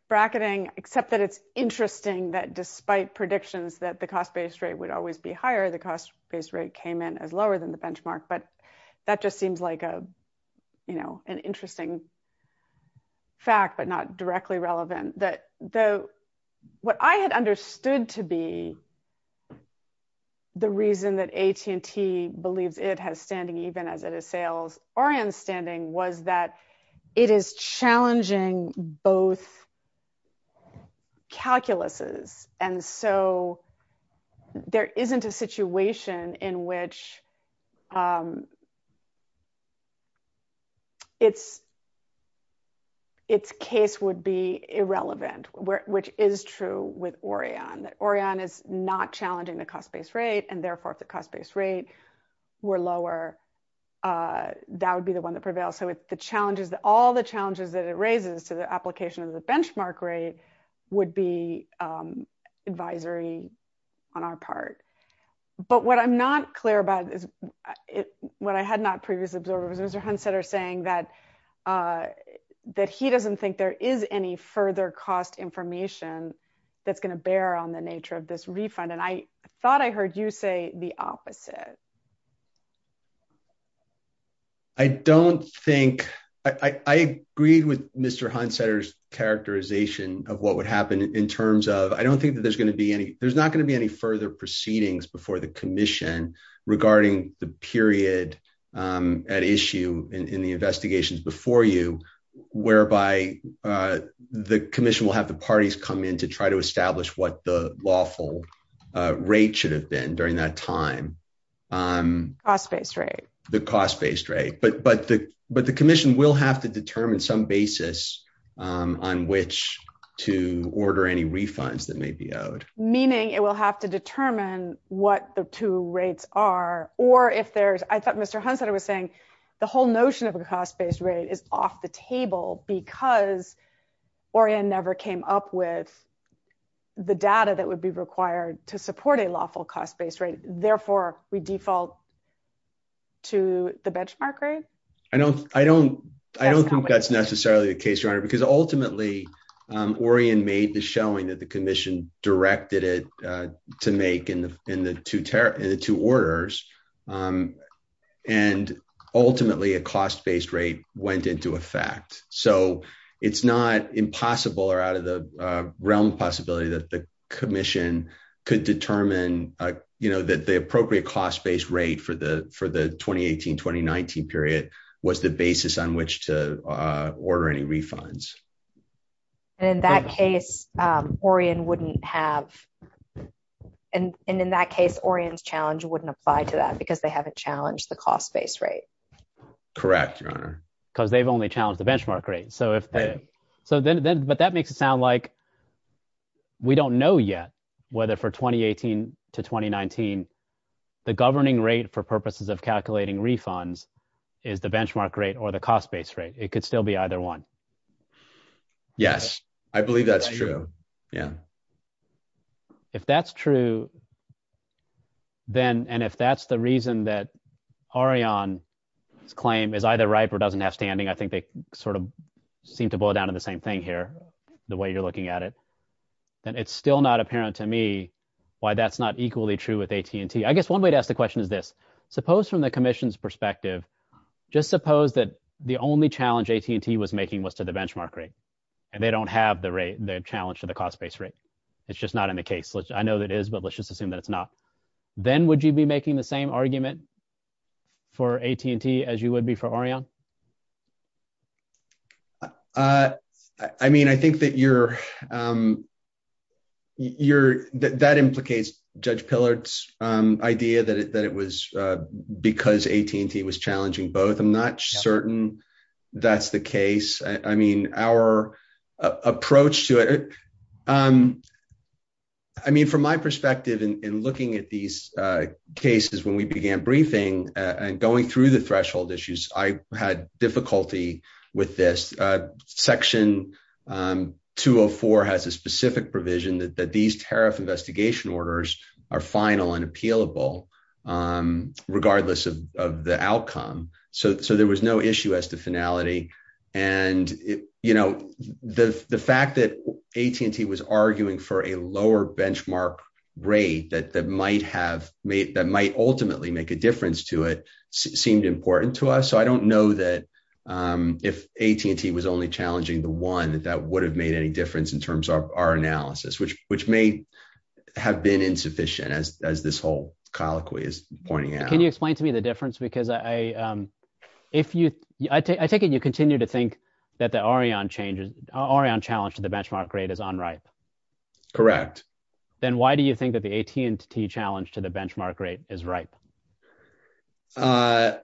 bracketing, except that it's interesting that despite predictions that the cost-based rate would always be higher, the cost-based rate came in as lower than the benchmark. But that just seems like an interesting fact, but not directly relevant. What I had understood to be the reason that AT&T believes it has standing, even as it assails ORION's standing, was that it is challenging both calculuses. And so there isn't a situation in which its case would be irrelevant, which is true with ORION. That ORION is not challenging the cost-based rate, and therefore if the cost-based rate were lower, that would be the one that prevails. So all the challenges that it raises to the application of the benchmark rate would be advisory on our part. But what I'm not clear about, what I had not previously observed, was Mr. Hunseter saying that he doesn't think there is any further cost information that's going to bear on the nature of this refund. And I thought I heard you say the opposite. I don't think, I agreed with Mr. Hunseter's characterization of what would happen in terms of, I don't think that there's going to be any, there's not going to be any further proceedings before the commission regarding the period at issue in the investigations before you, whereby the commission will have the parties come in to try to establish what the lawful rate should have been during that time. Cost-based rate. The cost-based rate, but the commission will have to determine some basis on which to order any refunds that may be owed. Meaning it will have to determine what the two rates are, or if there's, I thought Mr. Hunseter was saying the whole notion of a cost-based rate is off the table because Orian never came up with the data that would be required to support a lawful cost-based rate. Therefore, we default to the benchmark rate? I don't, I don't, I don't think that's necessarily the case, Your Honor, because ultimately Orian made the showing that the commission directed it to make in the two orders. And ultimately a cost-based rate went into effect. So it's not impossible or out of the realm of possibility that the commission could determine, you know, that the appropriate cost-based rate for the, for the 2018-2019 period was the basis on which to order any refunds. And in that case, Orian wouldn't have, and in that case, Orian's challenge wouldn't apply to that because they haven't challenged the cost-based rate. Because they've only challenged the benchmark rate. So if, so then, but that makes it sound like we don't know yet whether for 2018 to 2019, the governing rate for purposes of calculating refunds is the benchmark rate or the cost-based rate. It could still be either one. Yes, I believe that's true. Yeah. If that's true, then, and if that's the reason that Orian's claim is either right or doesn't have standing, I think they sort of seem to boil down to the same thing here, the way you're looking at it, then it's still not apparent to me why that's not equally true with AT&T. I guess one way to ask the question is this, suppose from the commission's perspective, just suppose that the only challenge AT&T was making was to the benchmark rate, and they don't have the rate, the challenge to the cost-based rate. It's just not in the case, which I know that is, but let's just assume that it's not. Then would you be making the same argument for AT&T as you would be for Orian? I mean, I think that that implicates Judge Pillard's idea that it was because AT&T was challenging both. I'm not certain that's the case. I mean, from my perspective in looking at these cases when we began briefing and going through the threshold issues, I had difficulty with this. Section 204 has a specific provision that these tariff investigation orders are final and appealable regardless of the outcome, so there was no issue as to finality. The fact that AT&T was arguing for a lower benchmark rate that might ultimately make a difference to it seemed important to us, so I don't know that if AT&T was only challenging the one, that that would have made any difference in terms of our analysis, which may have been insufficient, as this whole colloquy is pointing out. Can you explain to me the difference? Because I take it you continue to think that the Orian challenge to the benchmark rate is unripe. Correct. Then why do you think that the AT&T challenge to the benchmark rate is ripe? I'm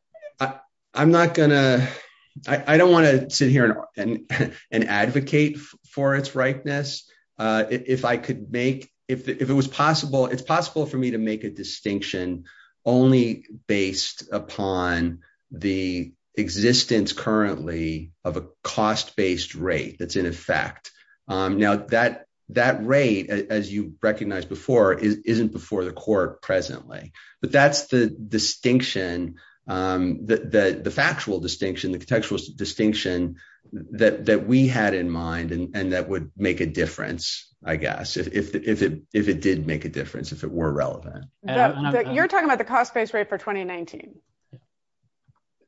not going to – I don't want to sit here and advocate for its ripeness. If I could make – if it was possible, it's possible for me to make a distinction only based upon the existence currently of a cost-based rate that's in effect. Now, that rate, as you recognized before, isn't before the court presently, but that's the distinction, the factual distinction, the contextual distinction that we had in mind and that would make a difference, I guess, if it did make a difference, if it were relevant. You're talking about the cost-based rate for 2019?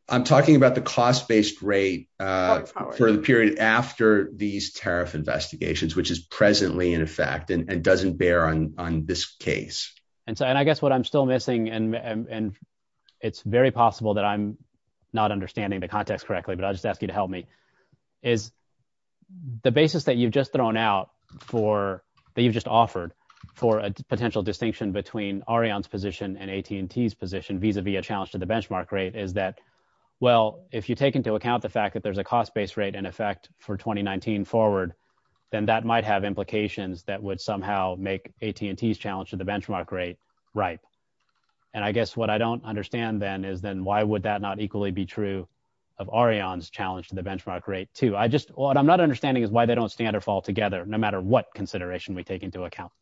I'm talking about the cost-based rate for the period after these tariff investigations, which is presently in effect and doesn't bear on this case. And I guess what I'm still missing, and it's very possible that I'm not understanding the context correctly, but I'll just ask you to help me, is the basis that you've just thrown out for – that you've just offered for a potential distinction between Orian's position and AT&T's position vis-à-vis a challenge to the benchmark rate is that, well, if you take into account the fact that there's a cost-based rate in effect for 2019 forward, then that might have implications that would somehow make AT&T's challenge to the benchmark rate ripe. And I guess what I don't understand, then, is then why would that not equally be true of Orion's challenge to the benchmark rate, too? What I'm not understanding is why they don't stand or fall together, no matter what consideration we take into account.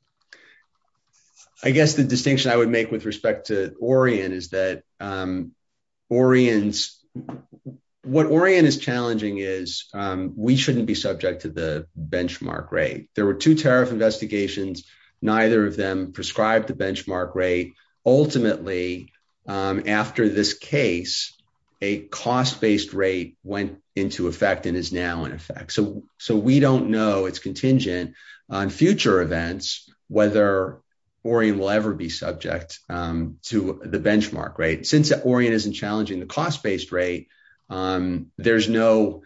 I guess the distinction I would make with respect to Orian is that Orian's – what Orian is challenging is we shouldn't be subject to the benchmark rate. There were two tariff investigations. Neither of them prescribed the benchmark rate. Ultimately, after this case, a cost-based rate went into effect and is now in effect. So we don't know – it's contingent on future events whether Orian will ever be subject to the benchmark rate. Since Orian isn't challenging the cost-based rate, there's no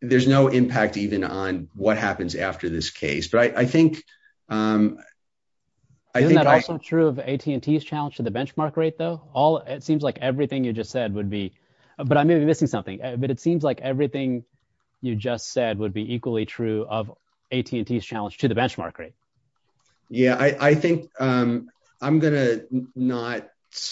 impact even on what happens after this case. But I think – Isn't that also true of AT&T's challenge to the benchmark rate, though? It seems like everything you just said would be – but I may be missing something. But it seems like everything you just said would be equally true of AT&T's challenge to the benchmark rate. Yeah, I think I'm going to not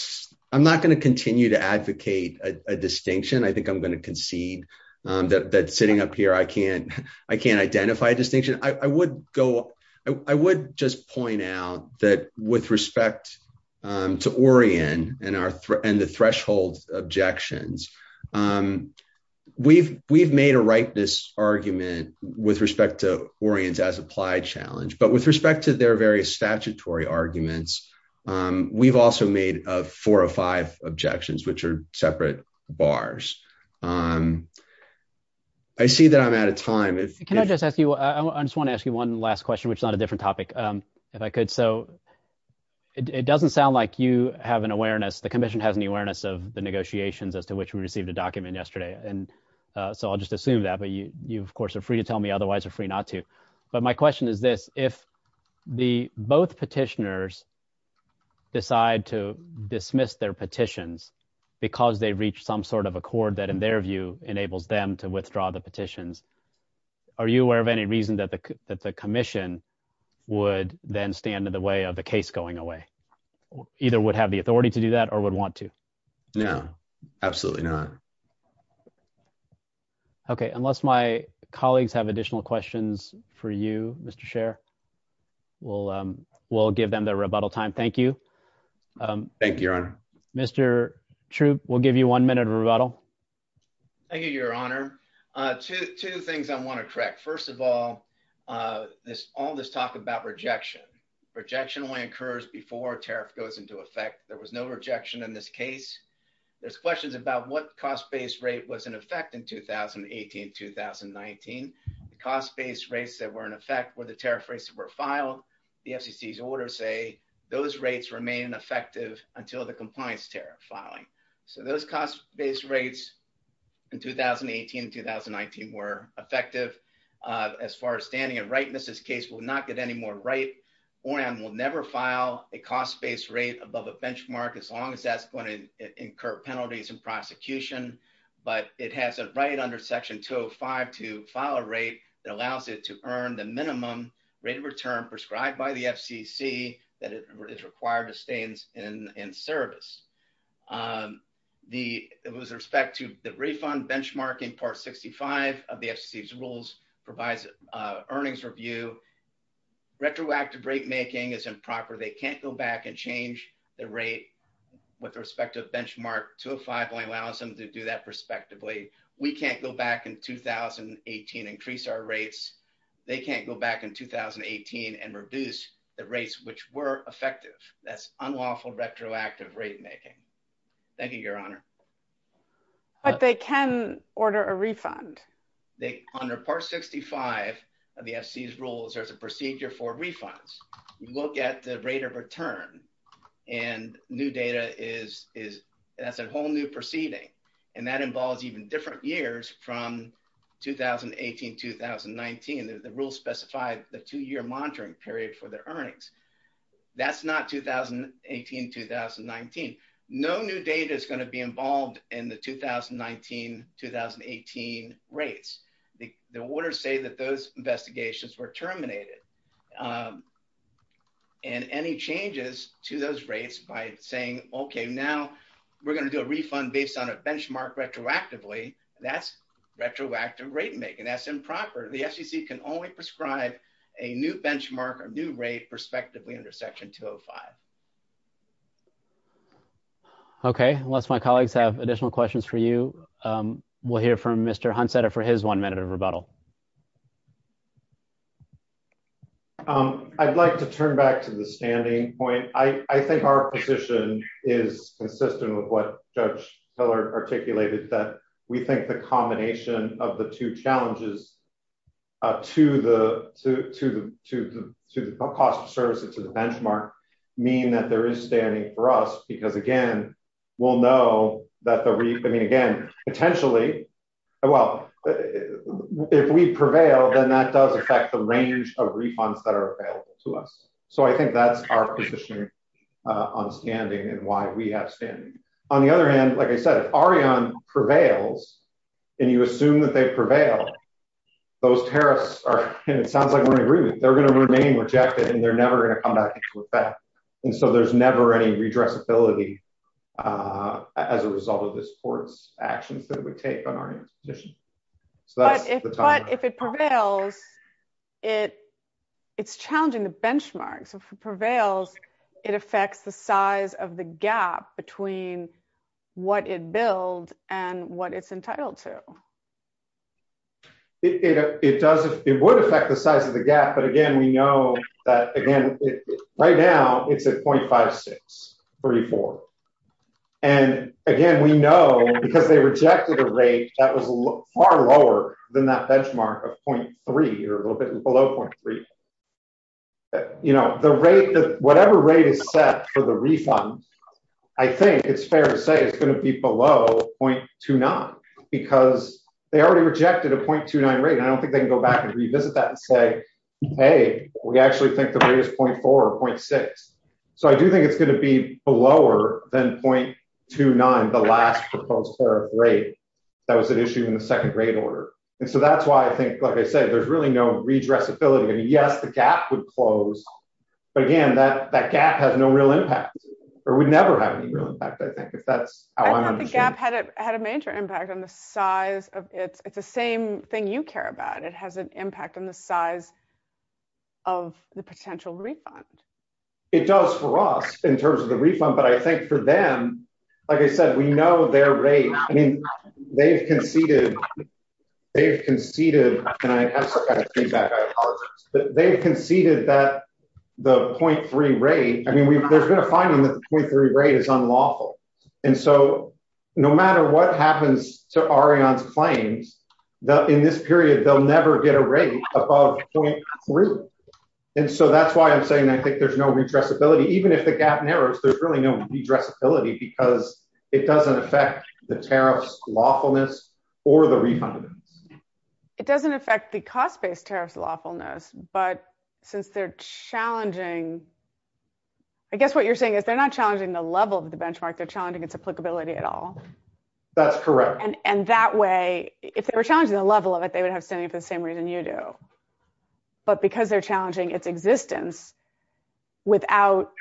– I'm not going to continue to advocate a distinction. I think I'm going to concede that sitting up here, I can't identify a distinction. I would go – I would just point out that with respect to Orian and the threshold objections, we've made a rightness argument with respect to Orian's as-applied challenge. But with respect to their various statutory arguments, we've also made four or five objections, which are separate bars. I see that I'm out of time. Can I just ask you – I just want to ask you one last question, which is on a different topic, if I could. So it doesn't sound like you have an awareness – the commission has an awareness of the negotiations as to which we received a document yesterday. And so I'll just assume that, but you, of course, are free to tell me. Otherwise, you're free not to. But my question is this. If both petitioners decide to dismiss their petitions because they've reached some sort of accord that, in their view, enables them to withdraw the petitions, are you aware of any reason that the commission would then stand in the way of the case going away? Either would have the authority to do that or would want to? No, absolutely not. Okay. Unless my colleagues have additional questions for you, Mr. Scher, we'll give them their rebuttal time. Thank you. Thank you, Your Honor. Mr. Troop, we'll give you one minute of rebuttal. Thank you, Your Honor. Two things I want to correct. First of all, all this talk about rejection. Rejection only occurs before a tariff goes into effect. There was no rejection in this case. There's questions about what cost-based rate was in effect in 2018 and 2019. The cost-based rates that were in effect were the tariff rates that were filed. The FCC's orders say those rates remain effective until the compliance tariff filing. So those cost-based rates in 2018 and 2019 were effective. As far as standing and rightness, this case will not get any more right. ORAN will never file a cost-based rate above a benchmark as long as that's going to incur penalties in prosecution. But it has a right under Section 205 to file a rate that allows it to earn the minimum rate of return prescribed by the FCC that is required to stay in service. With respect to the refund benchmark in Part 65 of the FCC's rules provides earnings review. Retroactive rate making is improper. They can't go back and change the rate with respect to a benchmark. 205 only allows them to do that prospectively. We can't go back in 2018 and increase our rates. They can't go back in 2018 and reduce the rates which were effective. That's unlawful retroactive rate making. Thank you, Your Honor. But they can order a refund. Under Part 65 of the FCC's rules, there's a procedure for refunds. You look at the rate of return and new data is a whole new proceeding. And that involves even different years from 2018-2019. The rules specify the two-year monitoring period for the earnings. That's not 2018-2019. No new data is going to be involved in the 2019-2018 rates. The orders say that those investigations were terminated. And any changes to those rates by saying, okay, now we're going to do a refund based on a benchmark retroactively, that's retroactive rate making. That's improper. The FCC can only prescribe a new benchmark or new rate prospectively under Section 205. Okay. Unless my colleagues have additional questions for you. We'll hear from Mr. Hunsetter for his one minute of rebuttal. I'd like to turn back to the standing point. I think our position is consistent with what Judge Hillard articulated, that we think the combination of the two challenges to the cost of service and to the benchmark mean that there is standing for us. Because, again, we'll know that the refunding, again, potentially, well, if we prevail, then that does affect the range of refunds that are available to us. So I think that's our position on standing and why we have standing. On the other hand, like I said, if Ariane prevails and you assume that they prevail, those tariffs are, and it sounds like we're in agreement, they're going to remain rejected and they're never going to come back into effect. And so there's never any redressability as a result of this court's actions that it would take on Ariane's position. But if it prevails, it's challenging the benchmark. So if it prevails, it affects the size of the gap between what it billed and what it's entitled to. It would affect the size of the gap. But, again, we know that, again, right now it's at 0.5634. And, again, we know because they rejected a rate that was far lower than that benchmark of 0.3 or a little bit below 0.3. You know, whatever rate is set for the refund, I think it's fair to say it's going to be below 0.29 because they already rejected a 0.29 rate. And I don't think they can go back and revisit that and say, hey, we actually think the rate is 0.4 or 0.6. So I do think it's going to be lower than 0.29, the last proposed tariff rate that was at issue in the second grade order. And so that's why I think, like I said, there's really no redressability. And, yes, the gap would close. But, again, that gap has no real impact or would never have any real impact, I think, if that's how I understand it. I thought the gap had a major impact on the size of it. It's the same thing you care about. It has an impact on the size of the potential refund. It does for us in terms of the refund. But I think for them, like I said, we know their rate. I mean, they've conceded and I have some kind of feedback, I apologize. But they've conceded that the 0.3 rate, I mean, there's been a finding that the 0.3 rate is unlawful. And so no matter what happens to Ariane's claims, in this period, they'll never get a rate above 0.3. And so that's why I'm saying I think there's no redressability. Even if the gap narrows, there's really no redressability because it doesn't affect the tariffs lawfulness or the refund. It doesn't affect the cost-based tariffs lawfulness. But since they're challenging, I guess what you're saying is they're not challenging the level of the benchmark. They're challenging its applicability at all. That's correct. And that way, if they were challenging the level of it, they would have standing for the same reason you do. But because they're challenging its existence without.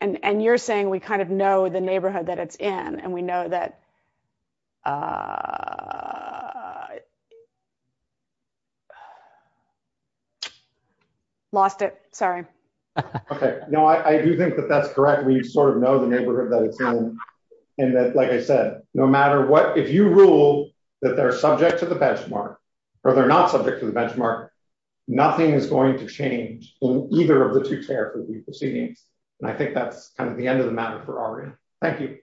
And you're saying we kind of know the neighborhood that it's in and we know that. Lost it. Sorry. Okay, no, I do think that that's correct. We sort of know the neighborhood that it's in. And like I said, no matter what, if you rule that they're subject to the benchmark or they're not subject to the benchmark. Nothing is going to change in either of the two tariff proceedings. And I think that's kind of the end of the matter for Ariane. Thank you.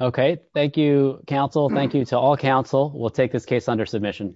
Okay, thank you, counsel. Thank you to all counsel. We'll take this case under submission.